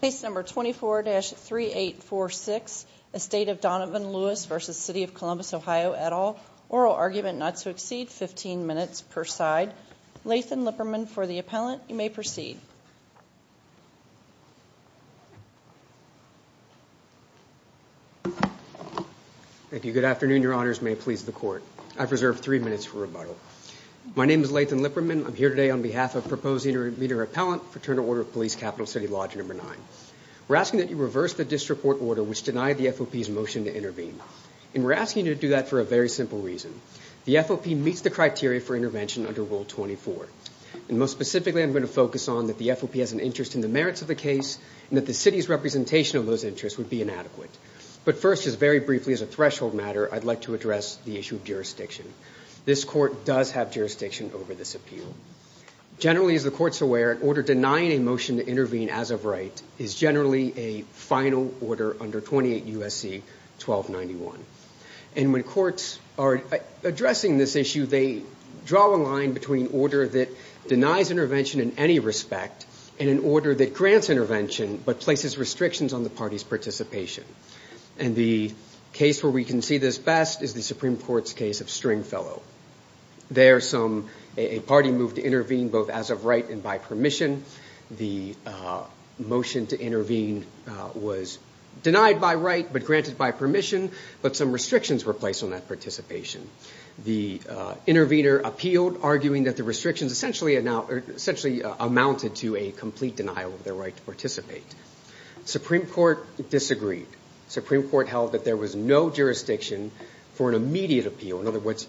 Case number 24-3846, Estate of Donovan L Lewis v. City of Columbus OH et al, Oral Argument Not to Exceed, 15 minutes per side, Lathan Lipperman for the appellant, you may proceed. Thank you. Good afternoon. Your honors may please the court. I've reserved three minutes for rebuttal. My name is Lathan Lipperman. I'm here today on behalf of proposed intermediary appellant, Fraternal Order of Police, Capital City Lodge number nine. We're asking that you reverse the disreport order, which denied the FOP's motion to intervene. And we're asking you to do that for a very simple reason. The FOP meets the criteria for intervention under Rule 24. And most specifically, I'm going to focus on that the FOP has an interest in the merits of the case and that the city's representation of those interests would be inadequate. But first, just very briefly as a threshold matter, I'd like to address the issue of jurisdiction. This court does have jurisdiction over this appeal. Generally, as the court's aware, an order denying a motion to intervene as of right is generally a final order under 28 U.S.C. 1291. And when courts are addressing this issue, they draw a line between order that denies intervention in any respect and an order that grants intervention but places restrictions on the party's participation. And the case where we can see this best is the Supreme Court's case of Stringfellow. There, a party moved to intervene both as of right and by permission. The motion to intervene was denied by right but granted by permission, but some restrictions were placed on that participation. The intervener appealed, arguing that the restrictions essentially amounted to a complete denial of their right to participate. Supreme Court disagreed. Supreme Court held that there was no jurisdiction for an immediate appeal. In other words,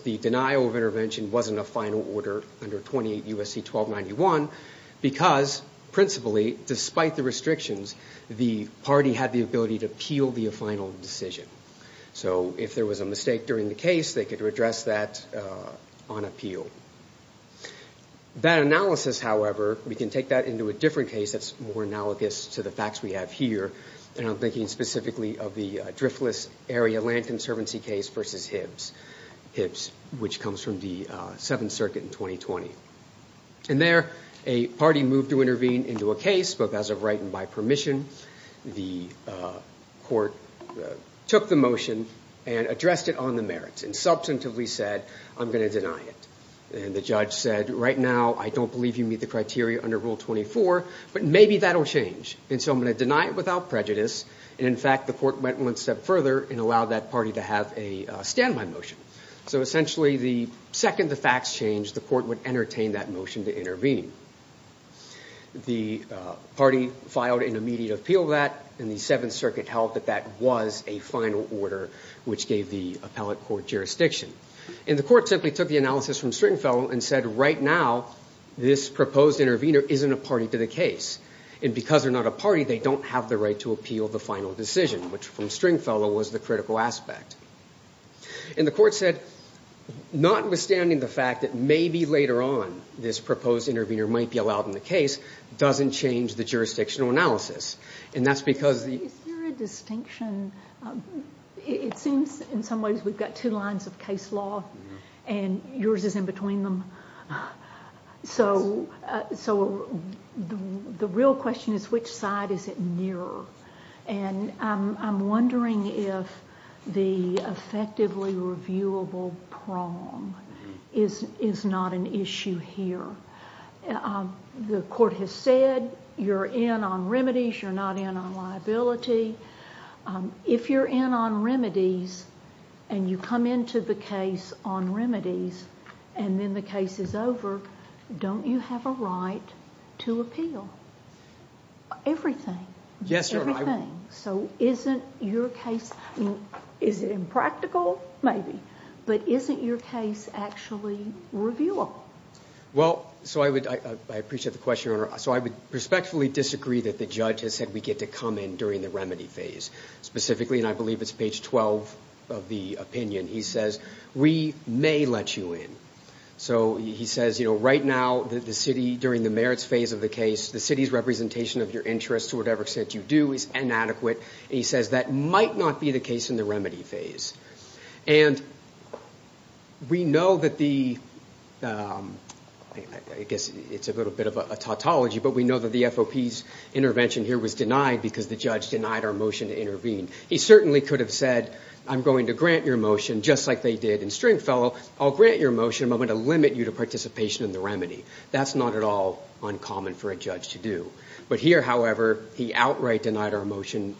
the denial of intervention wasn't a final order under 28 U.S.C. 1291 because principally, despite the restrictions, the party had the ability to appeal the final decision. So if there was a mistake during the case, they could address that on appeal. That analysis, however, we can take that into a different case that's more analogous to the facts we have here. And I'm thinking specifically of the Driftless Area Land Conservancy case versus Hibbs, which comes from the Seventh Circuit in 2020. And there, a party moved to intervene into a case, both as of right and by permission. The court took the motion and addressed it on the merits and substantively said, I'm going to deny it. And the judge said, right now, I don't believe you meet the criteria under Rule 24, but maybe that'll change. And so I'm going to deny it without prejudice. And in fact, the court went one step further and allowed that party to have a stand-by motion. So essentially, the second the facts changed, the court would entertain that motion to intervene. The party filed an immediate appeal of that, and the Seventh Circuit held that that was a final order which gave the appellate court jurisdiction. And the court simply took the analysis from Stringfellow and said, right now, this proposed intervener isn't a party to the case. And because they're not a party, they don't have the right to appeal the final decision, which from Stringfellow was the critical aspect. And the court said, notwithstanding the fact that maybe later on this proposed intervener might be allowed in the case, doesn't change the jurisdictional analysis. And that's because... Is there a distinction? It seems in some ways we've got two lines of case law, and yours is in between them. So the real question is, which side is it nearer? And I'm wondering if the effectively reviewable prong is not an issue here. The court has said you're in on remedies, you're not in on liability. If you're in on remedies, and you come into the case on remedies, and then the case is over, don't you have a right to appeal? Everything. Yes, sir. Everything. So isn't your case... Is it impractical? Maybe. But isn't your case actually reviewable? Well, so I appreciate the question, Your Honor. So I would respectfully disagree that the judge has said we get to come in during the remedy phase. Specifically, and I believe it's page 12 of the opinion, he says, we may let you in. So he says, you know, right now, the city, during the merits phase of the case, the city's representation of your interest, to whatever extent you do, is inadequate. And he says that might not be the case in the remedy phase. And we know that the, I guess it's a little bit of a tautology, but we know that the FOP's intervention here was denied because the judge denied our motion to intervene. He certainly could have said, I'm going to grant your motion just like they did in Stringfellow. I'll grant your motion, but I'm going to limit you to participation in the remedy. That's not at all uncommon for a judge to do. But here, however, he outright denied our motion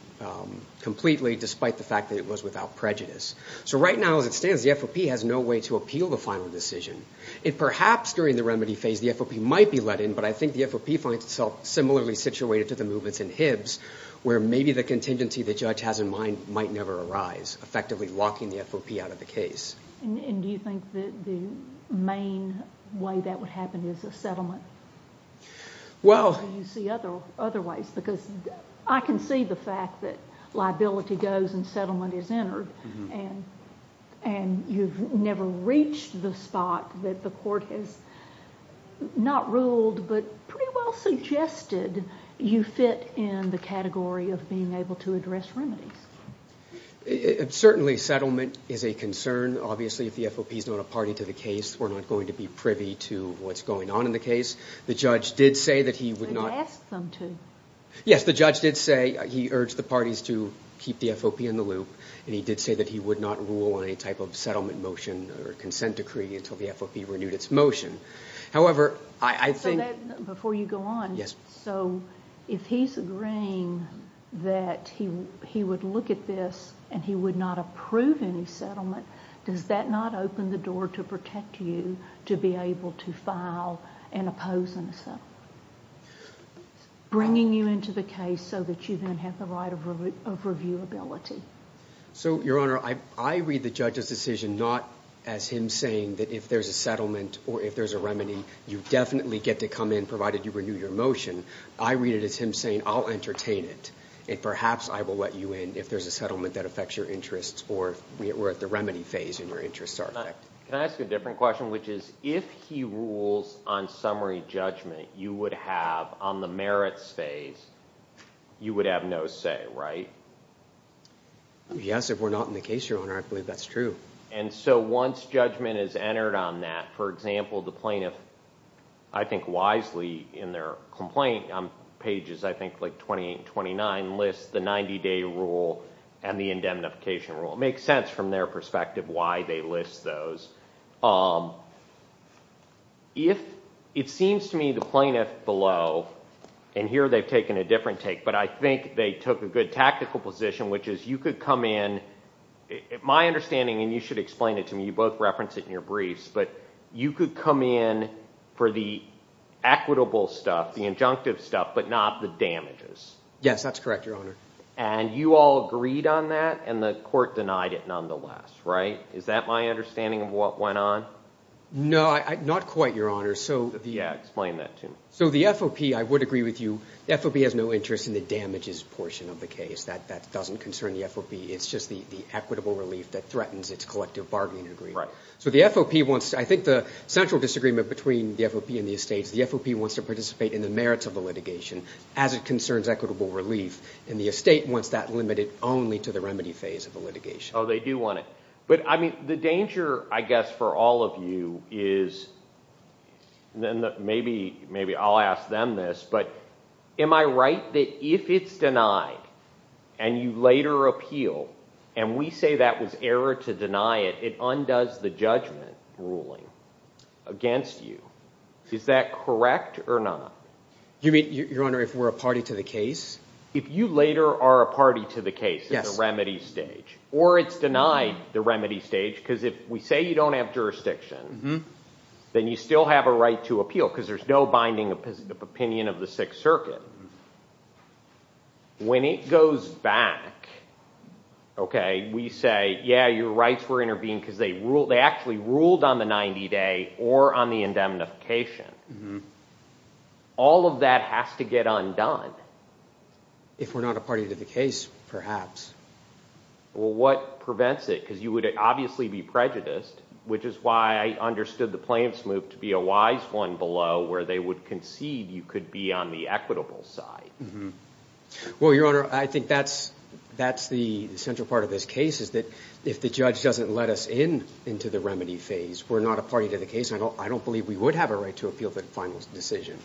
completely, despite the fact that it was without prejudice. So right now, as it stands, the FOP has no way to appeal the final decision. If perhaps during the remedy phase, the FOP might be let in. But I think the FOP finds itself similarly situated to the movements in Hibbs, where maybe the contingency the judge has in mind might never arise, effectively locking the FOP out of the case. And do you think that the main way that would happen is a settlement? Well... Or do you see other ways? Because I can see the fact that liability goes and settlement is entered, and you've never reached the spot that the court has not ruled, but pretty well suggested you fit in the category of being able to address remedies. Certainly, settlement is a concern. Obviously, if the FOP is not a party to the case, we're not going to be privy to what's going on in the case. The judge did say that he would not... Ask them to. Yes, the judge did say he urged the parties to keep the FOP in the loop. And he did say that he would not rule on any type of settlement motion or consent decree until the FOP renewed its motion. However, I think... Before you go on, so if he's agreeing that he would look at this and he would not approve any settlement, does that not open the door to protect you to be able to file and oppose a settlement? Bringing you into the case so that you then have the right of reviewability. So, Your Honor, I read the judge's decision not as him saying that if there's a settlement or if there's a remedy, you definitely get to come in provided you renew your motion. I read it as him saying, I'll entertain it. And perhaps I will let you in if there's a settlement that affects your interests or we're at the remedy phase and your interests are affected. Can I ask a different question, which is if he rules on summary judgment, you would have on the merits phase, you would have no say, right? Yes, if we're not in the case, Your Honor, I believe that's true. And so once judgment is entered on that, for example, the plaintiff, I think wisely in their complaint on pages, I think like 28 and 29, lists the 90-day rule and the indemnification rule. It makes sense from their perspective why they list those. If it seems to me the plaintiff below, and here they've taken a different take, but I think they took a good tactical position, which is you could come in. My understanding, and you should explain it to me, you both referenced it in your briefs, but you could come in for the equitable stuff, the injunctive stuff, but not the damages. Yes, that's correct, Your Honor. And you all agreed on that and the court denied it nonetheless, right? Is that my understanding of what went on? No, not quite, Your Honor. Yeah, explain that to me. So the FOP, I would agree with you. The FOP has no interest in the damages portion of the case. That doesn't concern the FOP. It's just the equitable relief that threatens its collective bargaining agreement. So the FOP wants, I think the central disagreement between the FOP and the estates, the FOP wants to participate in the merits of the litigation as it concerns equitable relief, and the estate wants that limited only to the remedy phase of the litigation. Oh, they do want it. But I mean, the danger, I guess, for all of you is, and maybe I'll ask them this, but am I right that if it's denied and you later appeal, and we say that was error to deny it, it undoes the judgment ruling against you. Is that correct or not? You mean, Your Honor, if we're a party to the case? If you later are a party to the case, the remedy stage, or it's denied the remedy stage, because if we say you don't have jurisdiction, then you still have a right to appeal because there's no binding opinion of the Sixth Circuit. When it goes back, okay, we say, yeah, your rights were intervened because they actually ruled on the 90-day or on the indemnification. All of that has to get undone. If we're not a party to the case, perhaps. Well, what prevents it? Because you would obviously be prejudiced, which is why I understood the plaintiff's move to be a wise one below where they would concede you could be on the equitable side. Well, Your Honor, I think that's the central part of this case, is that if the judge doesn't let us in into the remedy phase, we're not a party to the case, and I don't believe we would have a right to appeal the final decision.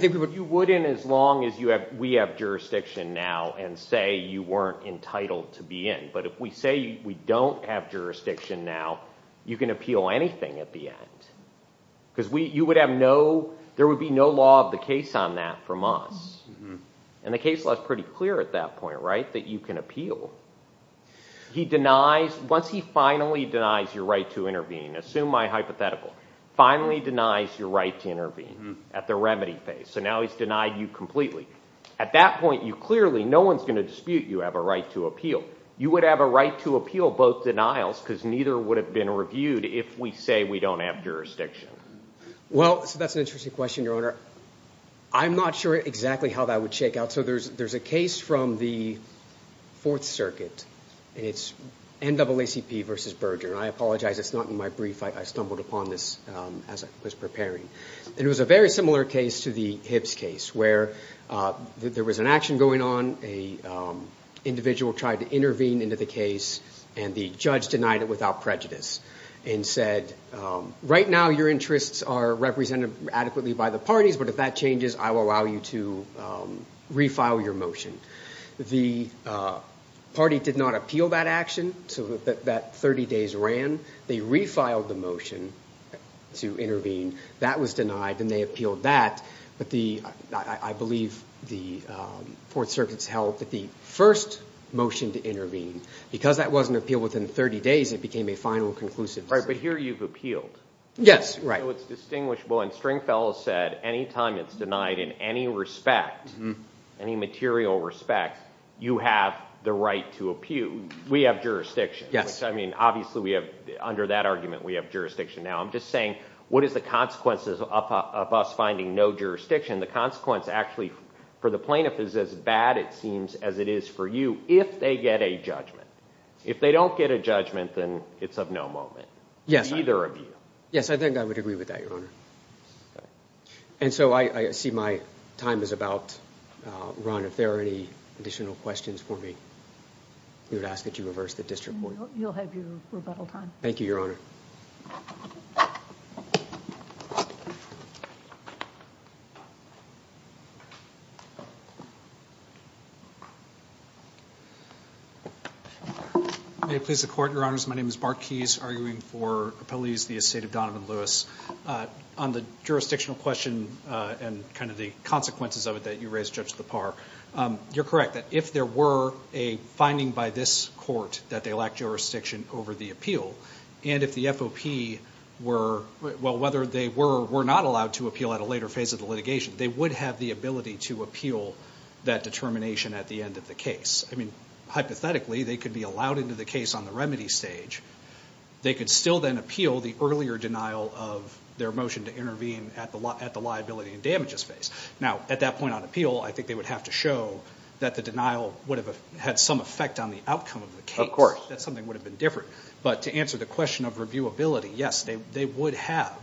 You wouldn't as long as we have jurisdiction now and say you weren't entitled to be in. But if we say we don't have jurisdiction now, you can appeal anything at the end because you would have no, there would be no law of the case on that from us. And the case law is pretty clear at that point, right, that you can appeal. He denies, once he finally denies your right to intervene, assume my hypothetical, finally denies your right to intervene at the remedy phase. So now he's denied you completely. At that point, you clearly, no one's going to dispute you have a right to appeal. You would have a right to appeal both denials because neither would have been reviewed if we say we don't have jurisdiction. Well, that's an interesting question, Your Honor. I'm not sure exactly how that would shake out. So there's a case from the Fourth Circuit, and it's NAACP versus Berger. And I apologize, it's not in my brief. I stumbled upon this as I was preparing. And it was a very similar case to the Hibbs case where there was an action going on. An individual tried to intervene into the case, and the judge denied it without prejudice and said, right now, your interests are represented adequately by the parties. But if that changes, I will allow you to refile your motion. The party did not appeal that action. So that 30 days ran. They refiled the motion to intervene. That was denied, and they appealed that. But I believe the Fourth Circuit's held that the first motion to intervene, because that wasn't appealed within 30 days, it became a final conclusive decision. Right, but here you've appealed. Yes, right. So it's distinguishable, and Stringfellow said, any time it's denied in any respect, any material respect, you have the right to appeal. We have jurisdiction. I mean, obviously, under that argument, we have jurisdiction. Now, I'm just saying, what is the consequences of us finding no jurisdiction? The consequence, actually, for the plaintiff is as bad, it seems, as it is for you, if they get a judgment. If they don't get a judgment, then it's of no moment to either of you. Yes, I think I would agree with that, Your Honor. And so I see my time is about run. If there are any additional questions for me, we would ask that you reverse the district court. You'll have your rebuttal time. Thank you, Your Honor. May it please the Court, Your Honors. My name is Mark Keyes, arguing for Appellees v. Estate of Donovan Lewis. On the jurisdictional question and kind of the consequences of it that you raised, Judge Lepar, you're correct that if there were a finding by this court that they lack jurisdiction over the appeal, and if the FOP were, well, whether they were or were not allowed to appeal at a later phase of the litigation, they would have the ability to appeal that determination at the end of the case. I mean, hypothetically, they could be allowed into the case on the remedy stage. They could still then appeal the earlier denial of their motion to intervene at the liability and damages phase. Now, at that point on appeal, I think they would have to show that the denial would have had some effect on the outcome of the case, that something would have been different. But to answer the question of reviewability, yes, they would have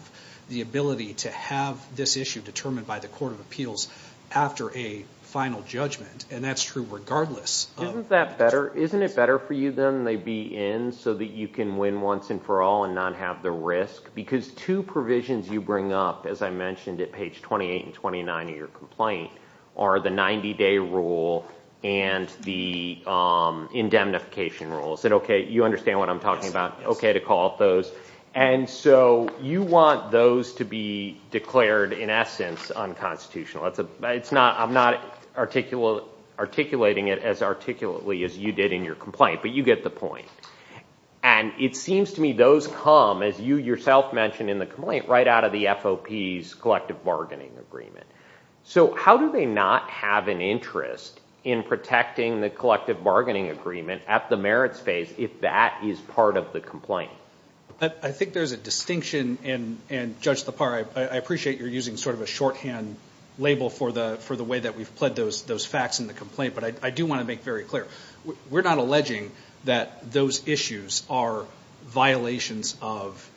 the ability to have this issue determined by the court of appeals after a final judgment. And that's true regardless. Isn't that better? Isn't it better for you, then, they be in so that you can win once and for all and not have the risk? Because two provisions you bring up, as I mentioned at page 28 and 29 of your complaint, are the 90-day rule and the indemnification rule. Is that OK? You understand what I'm talking about? OK to call up those. And so you want those to be declared, in essence, unconstitutional. I'm not articulating it as articulately as you did in your complaint. But you get the point. And it seems to me those come, as you yourself mentioned in the complaint, right out of the FOP's collective bargaining agreement. So how do they not have an interest in protecting the collective bargaining agreement at the merits phase if that is part of the complaint? I think there's a distinction. And Judge Lepar, I appreciate you're using sort of a shorthand label for the way that we've pledged those facts in the complaint. But I do want to make very clear, we're not alleging that those issues are violations of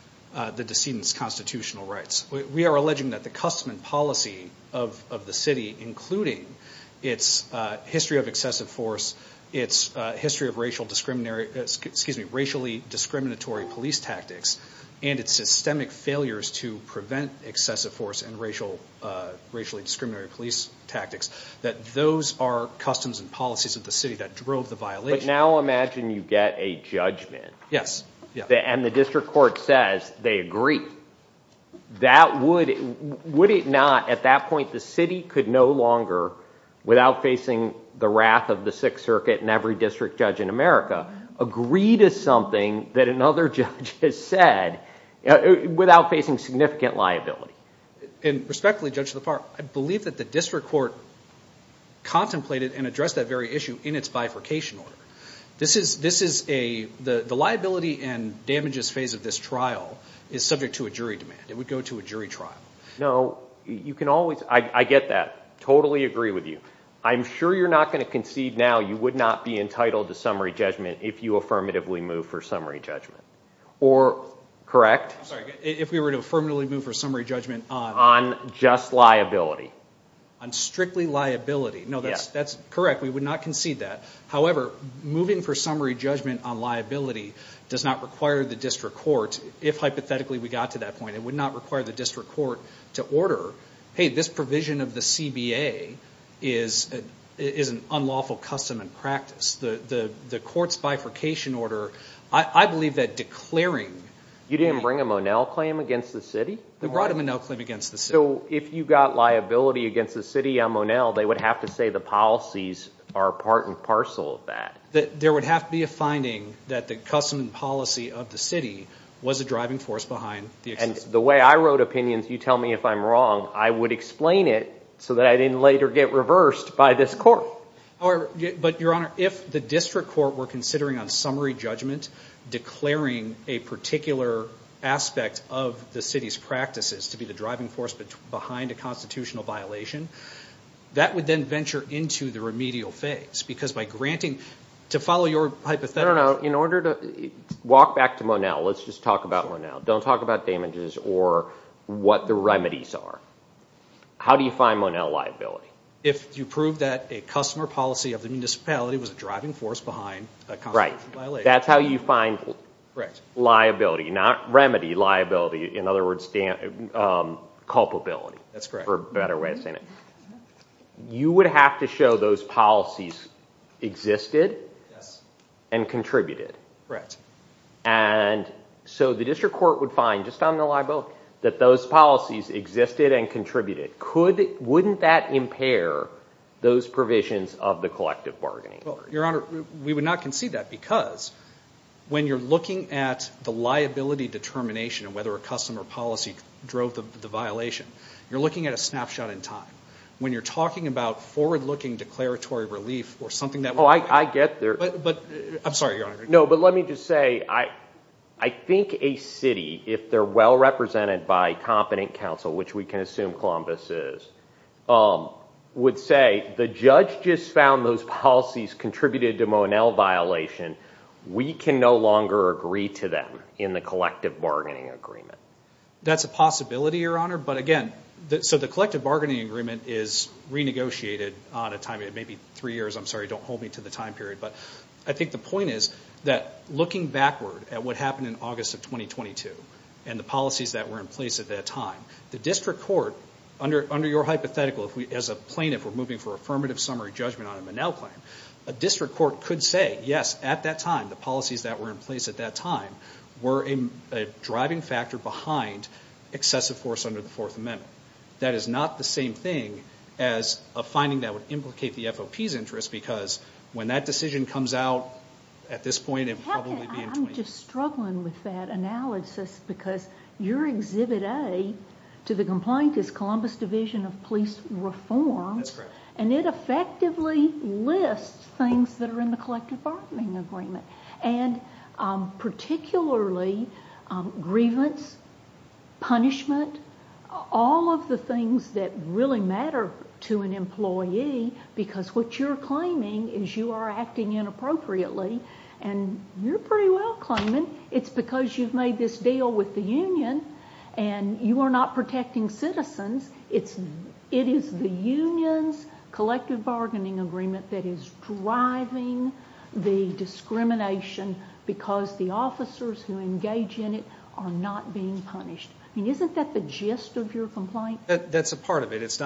the decedent's constitutional rights. We are alleging that the custom and policy of the city, including its history of excessive force, its history of racial discriminatory, excuse me, its systemic failures to prevent excessive force and racially discriminatory police tactics, that those are customs and policies of the city that drove the violation. But now imagine you get a judgment. Yes. And the district court says they agree. Would it not, at that point, the city could no longer, without facing the wrath of the Sixth Circuit and every district judge in America, agree to something that another judge has said without facing significant liability? And respectfully, Judge Lepar, I believe that the district court contemplated and addressed that very issue in its bifurcation order. This is a, the liability and damages phase of this trial is subject to a jury demand. It would go to a jury trial. No, you can always, I get that. Totally agree with you. I'm sure you're not going to concede now you would not be entitled to summary judgment if you affirmatively move for summary judgment. Or, correct? I'm sorry, if we were to affirmatively move for summary judgment on? On just liability. On strictly liability. No, that's correct. We would not concede that. However, moving for summary judgment on liability does not require the district court, if hypothetically we got to that point, it would not require the district court to order, hey, this provision of the CBA is an unlawful custom and practice. The court's bifurcation order, I believe that declaring. You didn't bring a Monell claim against the city? They brought a Monell claim against the city. So if you got liability against the city on Monell, they would have to say the policies are part and parcel of that. There would have to be a finding that the custom and policy of the city was a driving force behind the. And the way I wrote opinions, you tell me if I'm wrong, I would explain it so that I didn't later get reversed by this court. But your honor, if the district court were considering on summary judgment, declaring a particular aspect of the city's practices to be the driving force behind a constitutional violation, that would then venture into the remedial phase. Because by granting, to follow your hypothetical. No, no. In order to, walk back to Monell. Let's just talk about Monell. Don't talk about damages or what the remedies are. How do you find Monell liability? If you prove that a customer policy of the municipality was a driving force behind a constitutional violation. That's how you find liability. Not remedy liability. In other words, culpability. That's correct. For a better way of saying it. You would have to show those policies existed and contributed. Correct. And so the district court would find, just on the libel, that those policies existed and contributed. Wouldn't that impair those provisions of the collective bargaining? Well, your honor, we would not concede that. Because when you're looking at the liability determination of whether a customer policy drove the violation, you're looking at a snapshot in time. When you're talking about forward-looking declaratory relief or something that. Oh, I get there. But I'm sorry, your honor. No, but let me just say, I think a city, if they're well represented by competent council, which we can assume Columbus is, would say the judge just found those policies contributed to Monell violation. We can no longer agree to them in the collective bargaining agreement. That's a possibility, your honor. But again, so the collective bargaining agreement is renegotiated on a time, it may be three years. I'm sorry. Don't hold me to the time period. But I think the point is that looking backward at what happened in August of 2022 and the policies that were in place at that time, the district court, under your hypothetical, as a plaintiff, we're moving for affirmative summary judgment on a Monell claim. A district court could say, yes, at that time, the policies that were in place at that time were a driving factor behind excessive force under the fourth amendment. That is not the same thing as a finding that would implicate the FOP's interest, because when that decision comes out at this point, it would probably be in 2022. I'm just struggling with that analysis because your Exhibit A to the complaint is Columbus Division of Police Reform. That's correct. And it effectively lists things that are in the collective bargaining agreement and particularly grievance, punishment, all of the things that really matter to an employee, because what you're claiming is you are acting inappropriately. And you're pretty well claiming it's because you've made this deal with the union and you are not protecting citizens. It is the union's collective bargaining agreement that is driving the discrimination because the officers who engage in it are not being punished. I mean, isn't that the gist of your complaint? That's a part of it.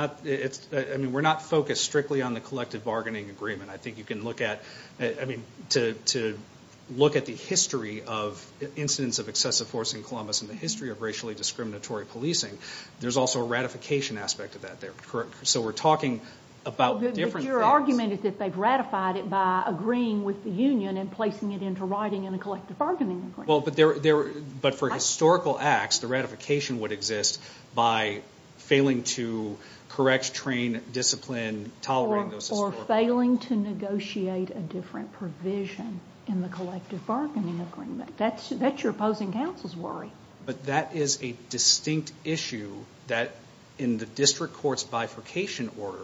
I mean, we're not focused strictly on the collective bargaining agreement. I think you can look at the history of incidents of excessive force in Columbus and the history of racially discriminatory policing. There's also a ratification aspect of that there. So we're talking about different things. Your argument is that they've ratified it by agreeing with the union and placing it into writing in a collective bargaining agreement. Well, but for historical acts, the ratification would exist by failing to correct, train, discipline, tolerate. Or failing to negotiate a different provision in the collective bargaining agreement. That's your opposing counsel's worry. But that is a distinct issue that in the district court's bifurcation order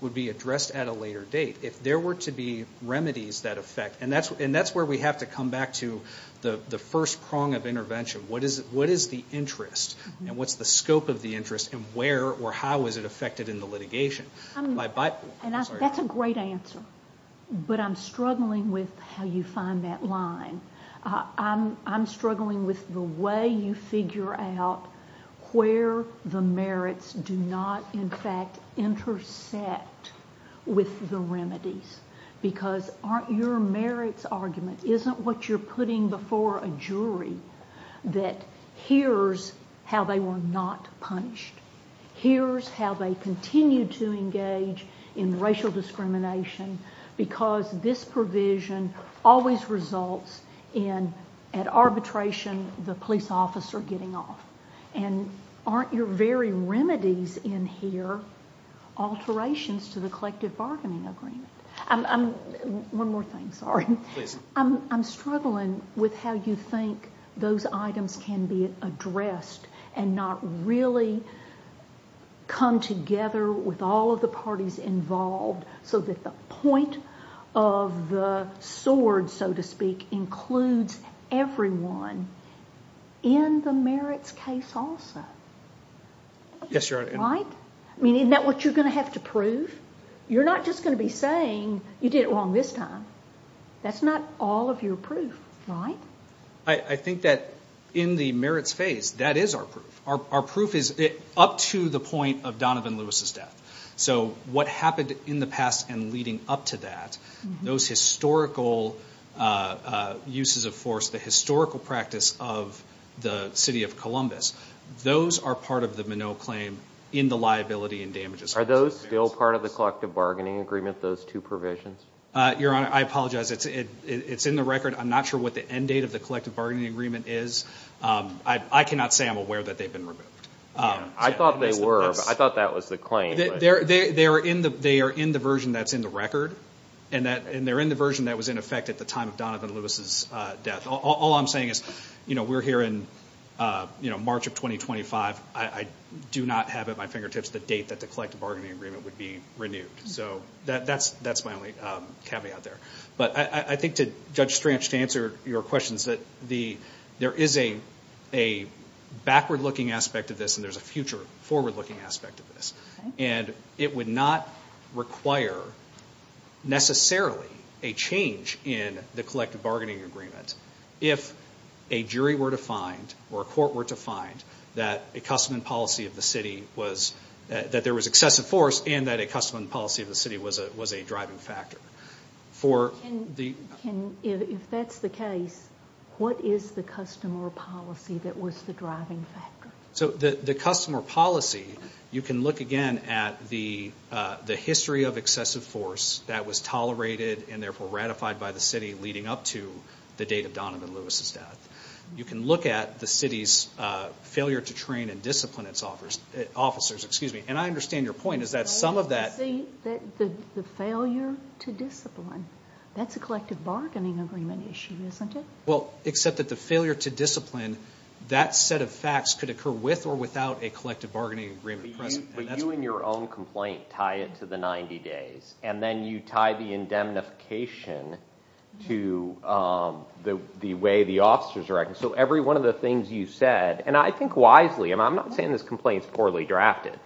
would be addressed at a later date. If there were to be remedies that affect, and that's where we have to come back to the first prong of intervention. What is the interest and what's the scope of the interest and where or how is it affected in the litigation? That's a great answer. But I'm struggling with how you find that line. I'm struggling with the way you figure out where the merits do not, in fact, intersect with the remedies. Because aren't your merits argument, isn't what you're putting before a jury that here's how they were not punished? Here's how they continue to engage in racial discrimination because this provision always results in, at arbitration, the police officer getting off. And aren't your very remedies in here alterations to the collective bargaining agreement? One more thing, sorry. I'm struggling with how you think those items can be addressed and not really come together with all of the parties involved so that the point of the sword, so to speak, includes everyone in the merits case also. Yes, Your Honor. Right? Isn't that what you're going to have to prove? You're not just going to be saying, you did it wrong this time. That's not all of your proof, right? I think that in the merits phase, that is our proof. Our proof is up to the point of Donovan Lewis' death. So what happened in the past and leading up to that, those historical uses of force, the historical practice of the city of Columbus, those are part of the Minot claim in the liability and damages. Are those still part of the collective bargaining agreement, those two provisions? Your Honor, I apologize. It's in the record. I'm not sure what the end date of the collective bargaining agreement is. I cannot say I'm aware that they've been removed. I thought they were. I thought that was the claim. They are in the version that's in the record. And they're in the version that was in effect at the time of Donovan Lewis' death. All I'm saying is we're here in March of 2025. I do not have at my fingertips the date that the collective bargaining agreement would be renewed. So that's my only caveat there. But I think to Judge Strange, to answer your questions, that there is a backward-looking aspect of this and there's a future forward-looking aspect of this. And it would not require necessarily a change in the collective bargaining agreement if a jury were to find or a court were to find that a custom and policy of the city was, that there was excessive force and that a custom and policy of the city was a driving factor. Can, if that's the case, what is the custom or policy that was the driving factor? So the custom or policy, you can look again at the history of excessive force that was tolerated and therefore ratified by the city leading up to the date of Donovan Lewis' death. You can look at the city's failure to train and discipline its officers. And I understand your point is that some of that... The failure to discipline. That's a collective bargaining agreement issue, isn't it? Well, except that the failure to discipline, that set of facts could occur with or without a collective bargaining agreement present. But you in your own complaint tie it to the 90 days and then you tie the indemnification to the way the officers are acting. So every one of the things you said, and I think wisely, and I'm not saying this complaint is poorly drafted.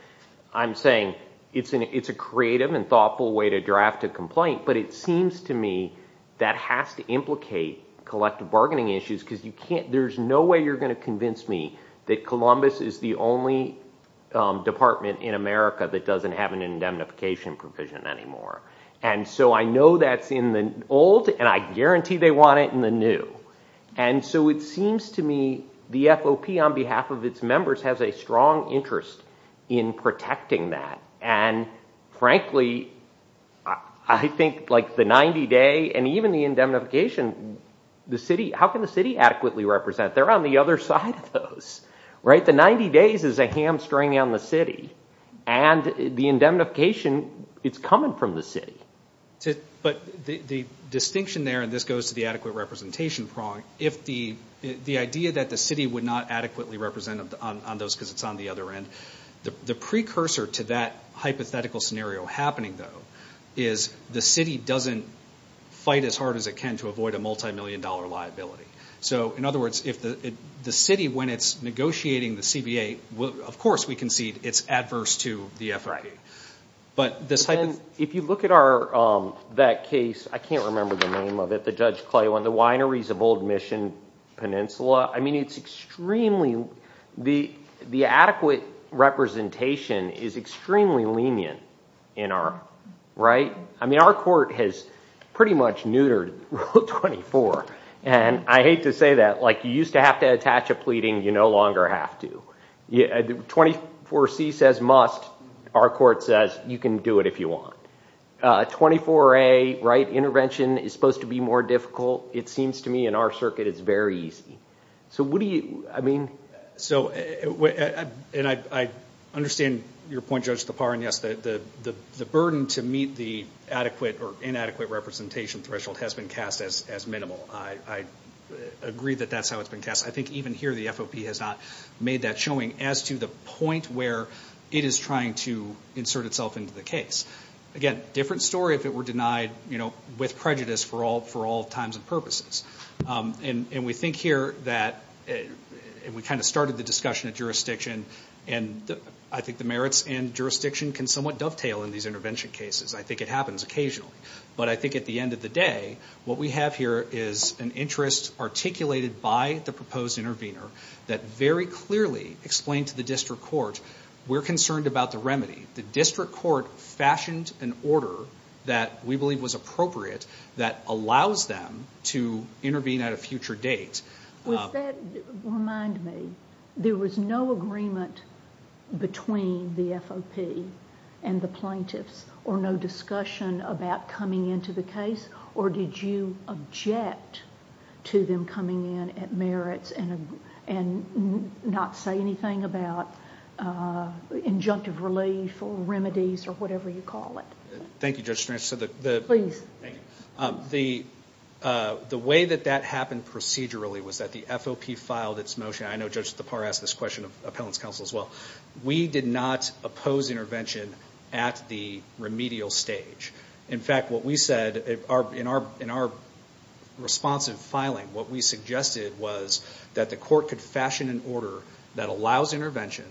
I'm saying it's a creative and thoughtful way to draft a complaint, but it seems to me that has to implicate collective bargaining issues because you can't, there's no way you're going to convince me that Columbus is the only department in America that doesn't have an indemnification provision anymore. And so I know that's in the old and I guarantee they want it in the new. And so it seems to me the FOP on behalf of its members has a strong interest in protecting that. And frankly, I think like the 90 day and even the indemnification, how can the city adequately represent? They're on the other side of those. The 90 days is a hamstring on the city and the indemnification, it's coming from the city. But the distinction there, and this goes to the adequate representation prong, if the idea that the city would not adequately represent on those because it's on the other end, the precursor to that hypothetical scenario happening though is the city doesn't fight as hard as it can to avoid a multi-million dollar liability. So in other words, if the city, when it's negotiating the CBA, of course we concede it's adverse to the FOP. But this type of... If you look at that case, I can't remember the name of it, the Judge Clay one, the wineries of Old Mission Peninsula, I mean it's extremely... The adequate representation is extremely lenient in our... I mean our court has pretty much neutered Rule 24. And I hate to say that, like you used to have to attach a pleading, you no longer have to. 24C says must, our court says you can do it if you want. 24A, right, intervention is supposed to be more difficult, it seems to me in our circuit it's very easy. So what do you, I mean... So, and I understand your point Judge Tapar, and yes, the burden to meet the adequate or inadequate representation threshold has been cast as minimal. I agree that that's how it's been cast. I think even here the FOP has not made that showing, as to the point where it is trying to insert itself into the case. Again, different story if it were denied, you know, with prejudice for all times and purposes. And we think here that, and we kind of started the discussion at jurisdiction, and I think the merits and jurisdiction can somewhat dovetail in these intervention cases, I think it happens occasionally. But I think at the end of the day, what we have here is an interest articulated by the proposed intervener that very clearly explained to the district court, we're concerned about the remedy. The district court fashioned an order that we believe was appropriate that allows them to intervene at a future date. Would that remind me, there was no agreement between the FOP and the plaintiffs, or no discussion about coming into the case, or did you object to them coming in at merits and not say anything about injunctive relief or remedies or whatever you call it? Thank you, Judge Strange. Please. Thank you. The way that that happened procedurally was that the FOP filed its motion. I know Judge Thapar asked this question of appellant's counsel as well. We did not oppose intervention at the remedial stage. In fact, what we said in our responsive filing, what we suggested was that the court could fashion an order that allows intervention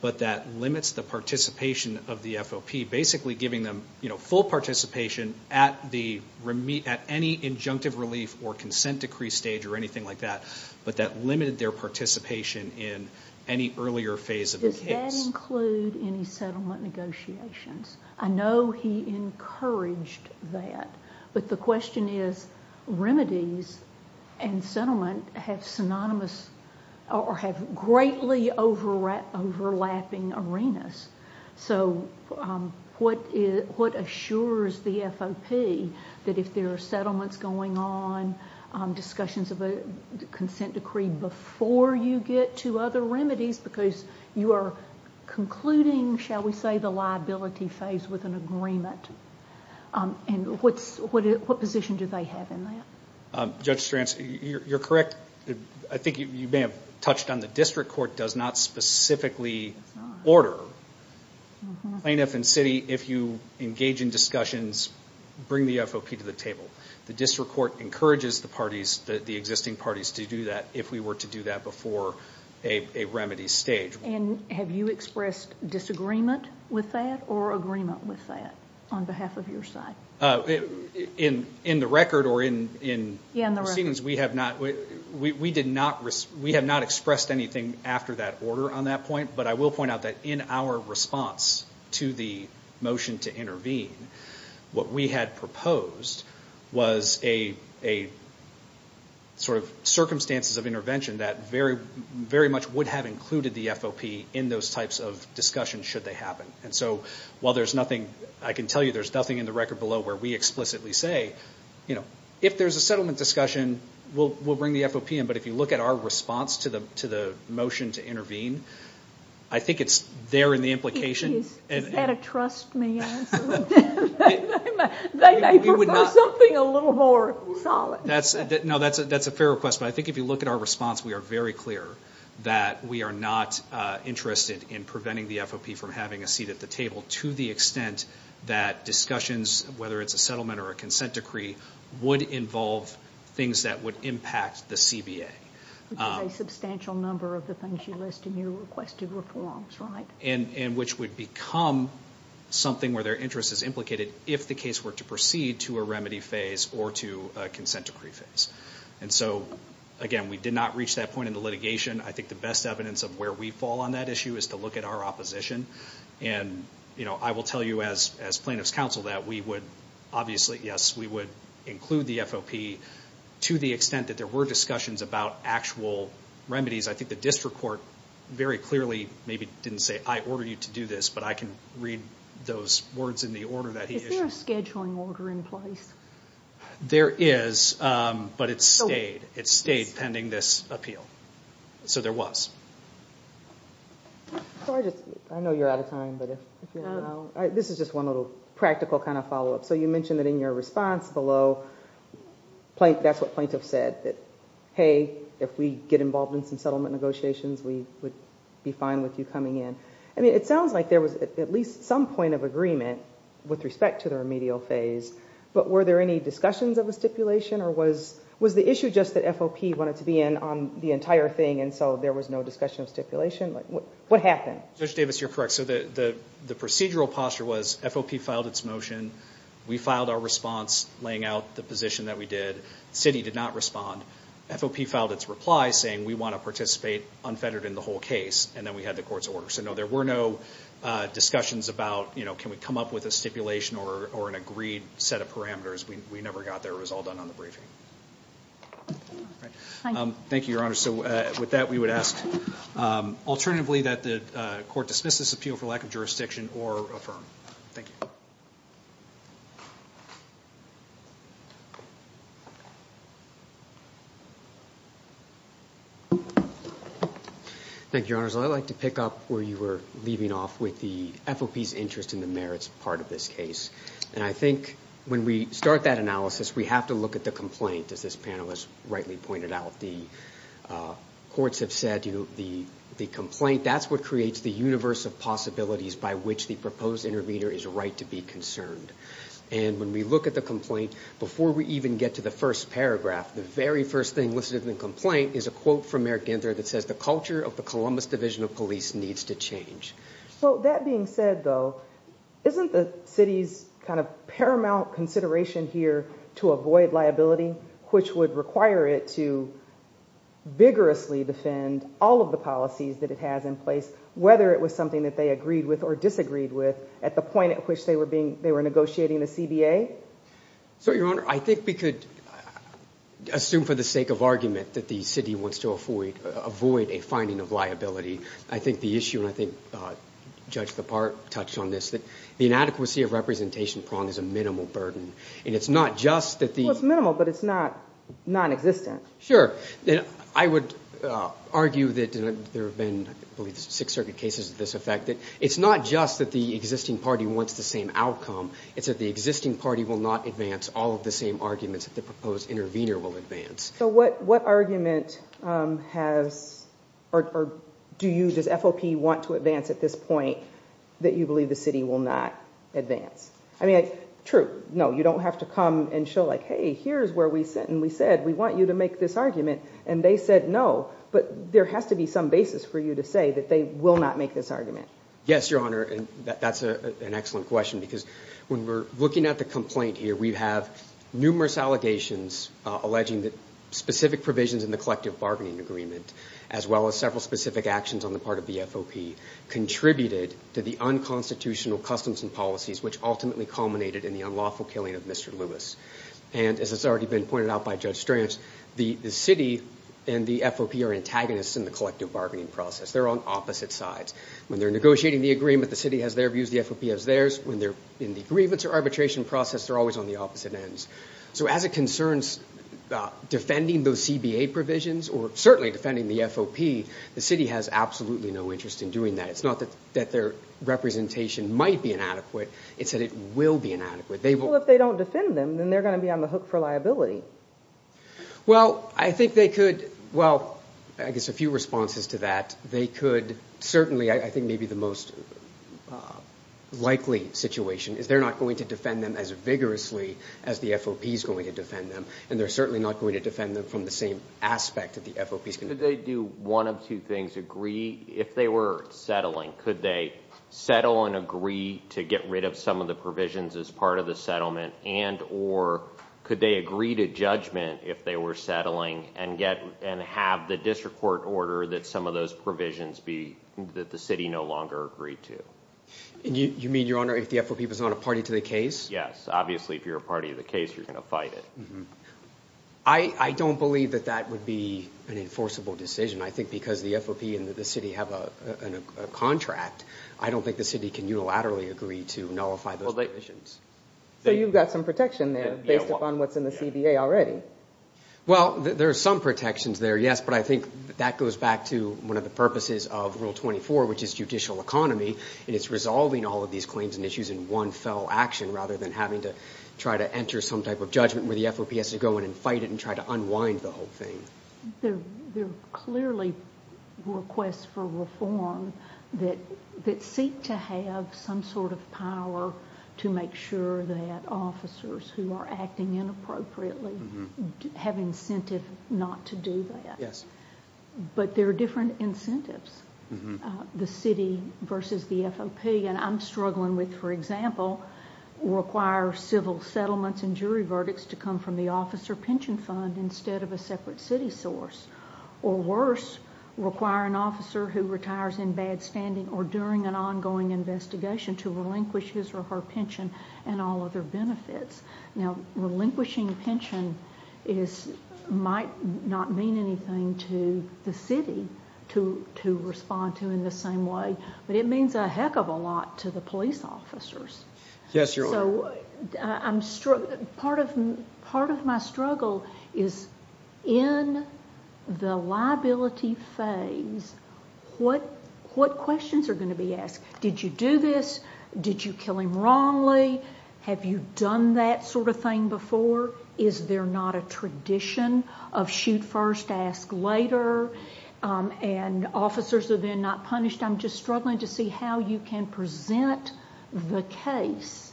but that limits the participation of the FOP, basically giving them full participation at any injunctive relief or consent decree stage or anything like that, but that limited their participation in any earlier phase of the case. Does that include any settlement negotiations? I know he encouraged that, but the question is remedies and settlement have synonymous or have greatly overlapping arenas. So what assures the FOP that if there are settlements going on, discussions of a consent decree before you get to other remedies because you are concluding, shall we say, the liability phase with an agreement? What position do they have in that? Judge Strange, you're correct. I think you may have touched on the district court does not specifically order. Plaintiff and city, if you engage in discussions, bring the FOP to the table. The district court encourages the parties, the existing parties, to do that if we were to do that before a remedy stage. Have you expressed disagreement with that or agreement with that on behalf of your side? In the record or in proceedings, we have not expressed anything after that order on that point, but I will point out that in our response to the motion to intervene, what we had proposed was a sort of circumstances of intervention that very much would have included the FOP in those types of discussions should they happen. I can tell you there's nothing in the record below where we explicitly say, if there's a settlement discussion, we'll bring the FOP in, but if you look at our response to the motion to intervene, I think it's there in the implication. Is that a trust me answer? They may prefer something a little more solid. No, that's a fair request, but I think if you look at our response, we are very clear that we are not interested in preventing the FOP from having a seat at the table to the extent that discussions, whether it's a settlement or a consent decree, would involve things that would impact the CBA. Which is a substantial number of the things you list in your requested reforms, right? Which would become something where their interest is implicated if the case were to proceed to a remedy phase or to a consent decree phase. Again, we did not reach that point in the litigation. I think the best evidence of where we fall on that issue is to look at our opposition. I will tell you as plaintiff's counsel that we would, obviously, yes, we would include the FOP to the extent that there were discussions about actual remedies. I think the district court very clearly maybe didn't say, I order you to do this, but I can read those words in the order that he issued. Is there a scheduling order in place? There is, but it stayed. It stayed pending this appeal. So there was. I know you're out of time, but if you don't mind, this is just one little practical kind of follow-up. You mentioned that in your response below, that's what plaintiff said, that, hey, if we get involved in some settlement negotiations, we would be fine with you coming in. It sounds like there was at least some point of agreement with respect to the remedial phase, but were there any discussions of the stipulation, or was the issue just that FOP wanted to be in on the entire thing and so there was no discussion of stipulation? What happened? Judge Davis, you're correct. The procedural posture was FOP filed its motion. We filed our response laying out the position that we did. The city did not respond. FOP filed its reply saying, we want to participate unfettered in the whole case, and then we had the court's order. So, no, there were no discussions about, you know, can we come up with a stipulation or an agreed set of parameters. We never got there. It was all done on the briefing. Thank you, Your Honor. So with that, we would ask alternatively that the court dismiss this appeal for lack of jurisdiction or affirm. Thank you. Thank you, Your Honors. I'd like to pick up where you were leaving off with the FOP's interest in the merits part of this case. And I think when we start that analysis, we have to look at the complaint, as this panelist rightly pointed out. The courts have said, you know, the complaint, that's what creates the universe of possibilities by which the proposed intervener is right to be concerned. And when we look at the complaint, before we even get to the first paragraph, the very first thing listed in the complaint is a quote from Merigender that says, the culture of the Columbus Division of Police needs to change. Well, that being said, though, isn't the city's kind of paramount consideration here to avoid liability, which would require it to vigorously defend all of the policies that it has in place, whether it was something that they agreed with or disagreed with at the point at which they were negotiating the CBA? So, Your Honor, I think we could assume for the sake of argument that the city wants to avoid a finding of liability. I think the issue, and I think Judge LaParte touched on this, that the inadequacy of representation prong is a minimal burden. And it's not just that the... Well, it's minimal, but it's not non-existent. Sure. I would argue that there have been, I believe, six circuit cases of this effect. It's not just that the existing party wants the same outcome. It's that the existing party will not advance all of the same arguments that the proposed intervener will advance. So what argument has... Or do you, does FOP want to advance at this point that you believe the city will not advance? I mean, true, no, you don't have to come and show like, hey, here's where we sit, and we said we want you to make this argument, and they said no, but there has to be some basis for you to say that they will not make this argument. Yes, Your Honor, and that's an excellent question because when we're looking at the complaint here, we have numerous allegations alleging that specific provisions in the collective bargaining agreement, as well as several specific actions on the part of the FOP, contributed to the unconstitutional customs and policies which ultimately culminated in the unlawful killing of Mr. Lewis. And as has already been pointed out by Judge Strantz, the city and the FOP are antagonists in the collective bargaining process. They're on opposite sides. When they're negotiating the agreement, the city has their views, the FOP has theirs. When they're in the grievance or arbitration process, they're always on the opposite ends. So as it concerns defending those CBA provisions, or certainly defending the FOP, the city has absolutely no interest in doing that. It's not that their representation might be inadequate, it's that it will be inadequate. Well, if they don't defend them, then they're going to be on the hook for liability. Well, I think they could, well, I guess a few responses to that. They could certainly, I think maybe the most likely situation is they're not going to defend them as vigorously as the FOP is going to defend them, and they're certainly not going to defend them from the same aspect that the FOP is going to do. Could they do one of two things, agree? If they were settling, could they settle and agree to get rid of some of the provisions as part of the settlement, and or could they agree to judgment if they were settling and have the district court order that some of those provisions be that the city no longer agreed to? You mean, Your Honor, if the FOP was not a party to the case? Yes, obviously if you're a party to the case, you're going to fight it. I don't believe that that would be an enforceable decision. I think because the FOP and the city have a contract, I don't think the city can unilaterally agree to nullify those provisions. So you've got some protection there based upon what's in the CBA already. Well, there are some protections there, yes, but I think that goes back to one of the purposes of Rule 24, which is judicial economy, and it's resolving all of these claims and issues in one fell action rather than having to try to enter some type of judgment where the FOP has to go in and fight it and try to unwind the whole thing. There are clearly requests for reform that seek to have some sort of power to make sure that officers who are acting inappropriately have incentive not to do that. Yes. But there are different incentives, the city versus the FOP, and I'm struggling with, for example, require civil settlements and jury verdicts to come from the officer pension fund instead of a separate city source, or worse, require an officer who retires in bad standing or during an ongoing investigation to relinquish his or her pension and all other benefits. Now, relinquishing pension might not mean anything to the city to respond to in the same way, but it means a heck of a lot to the police officers. Yes, Your Honor. Part of my struggle is in the liability phase, what questions are going to be asked? Did you do this? Did you kill him wrongly? Have you done that sort of thing before? Is there not a tradition of shoot first, ask later? And officers are then not punished. I'm just struggling to see how you can present the case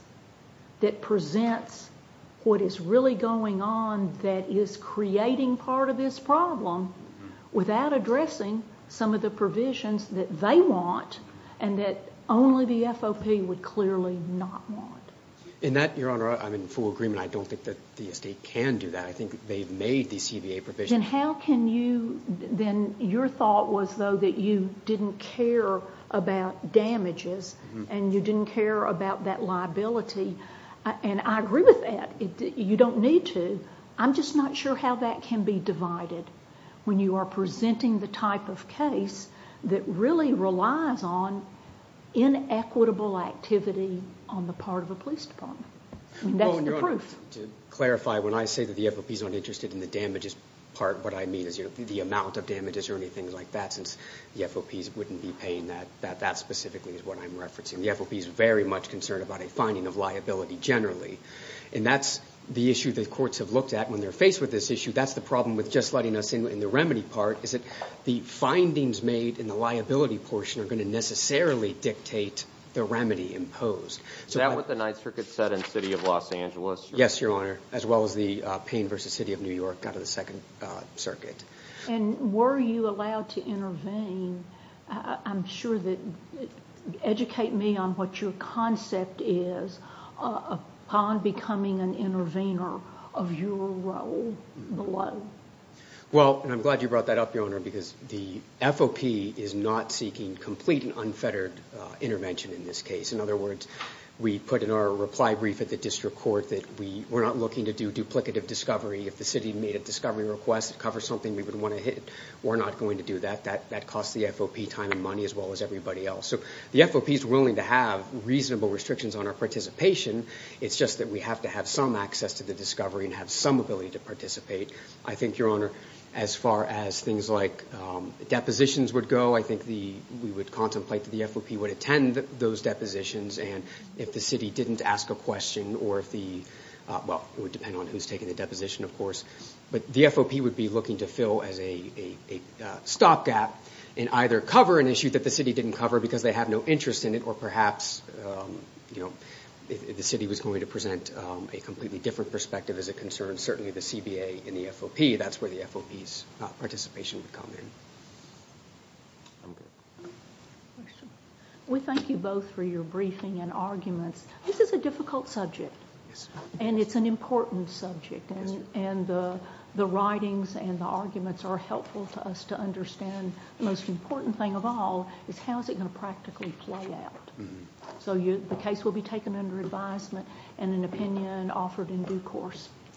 that presents what is really going on that is creating part of this problem without addressing some of the provisions that they want and that only the FOP would clearly not want. In that, Your Honor, I'm in full agreement. I don't think that the estate can do that. I think they've made the CBA provisions. Then your thought was, though, that you didn't care about damages and you didn't care about that liability, and I agree with that. You don't need to. I'm just not sure how that can be divided when you are presenting the type of case that really relies on inequitable activity on the part of a police department. That's the proof. To clarify, when I say that the FOP is not interested in the damages part, what I mean is the amount of damages or anything like that, since the FOPs wouldn't be paying that. That specifically is what I'm referencing. The FOP is very much concerned about a finding of liability generally, and that's the issue that courts have looked at when they're faced with this issue. That's the problem with just letting us in on the remedy part is that the findings made in the liability portion are going to necessarily dictate the remedy imposed. Is that what the Ninth Circuit said in the City of Los Angeles? Yes, Your Honor, as well as the Payne v. City of New York out of the Second Circuit. Were you allowed to intervene? Educate me on what your concept is upon becoming an intervener of your role below. I'm glad you brought that up, Your Honor, because the FOP is not seeking complete and unfettered intervention in this case. In other words, we put in our reply brief at the district court that we're not looking to do duplicative discovery. If the city made a discovery request to cover something we wouldn't want to hit, we're not going to do that. That costs the FOP time and money as well as everybody else. So the FOP is willing to have reasonable restrictions on our participation. It's just that we have to have some access to the discovery and have some ability to participate. I think, Your Honor, as far as things like depositions would go, I think we would contemplate that the FOP would attend those depositions and if the city didn't ask a question or if the – well, it would depend on who's taking the deposition, of course. But the FOP would be looking to fill as a stopgap and either cover an issue that the city didn't cover because they have no interest in it or perhaps the city was going to present a completely different perspective as a concern. Certainly the CBA and the FOP, that's where the FOP's participation would come in. We thank you both for your briefing and arguments. This is a difficult subject and it's an important subject. And the writings and the arguments are helpful to us to understand. The most important thing of all is how is it going to practically play out. So the case will be taken under advisement and an opinion offered in due course.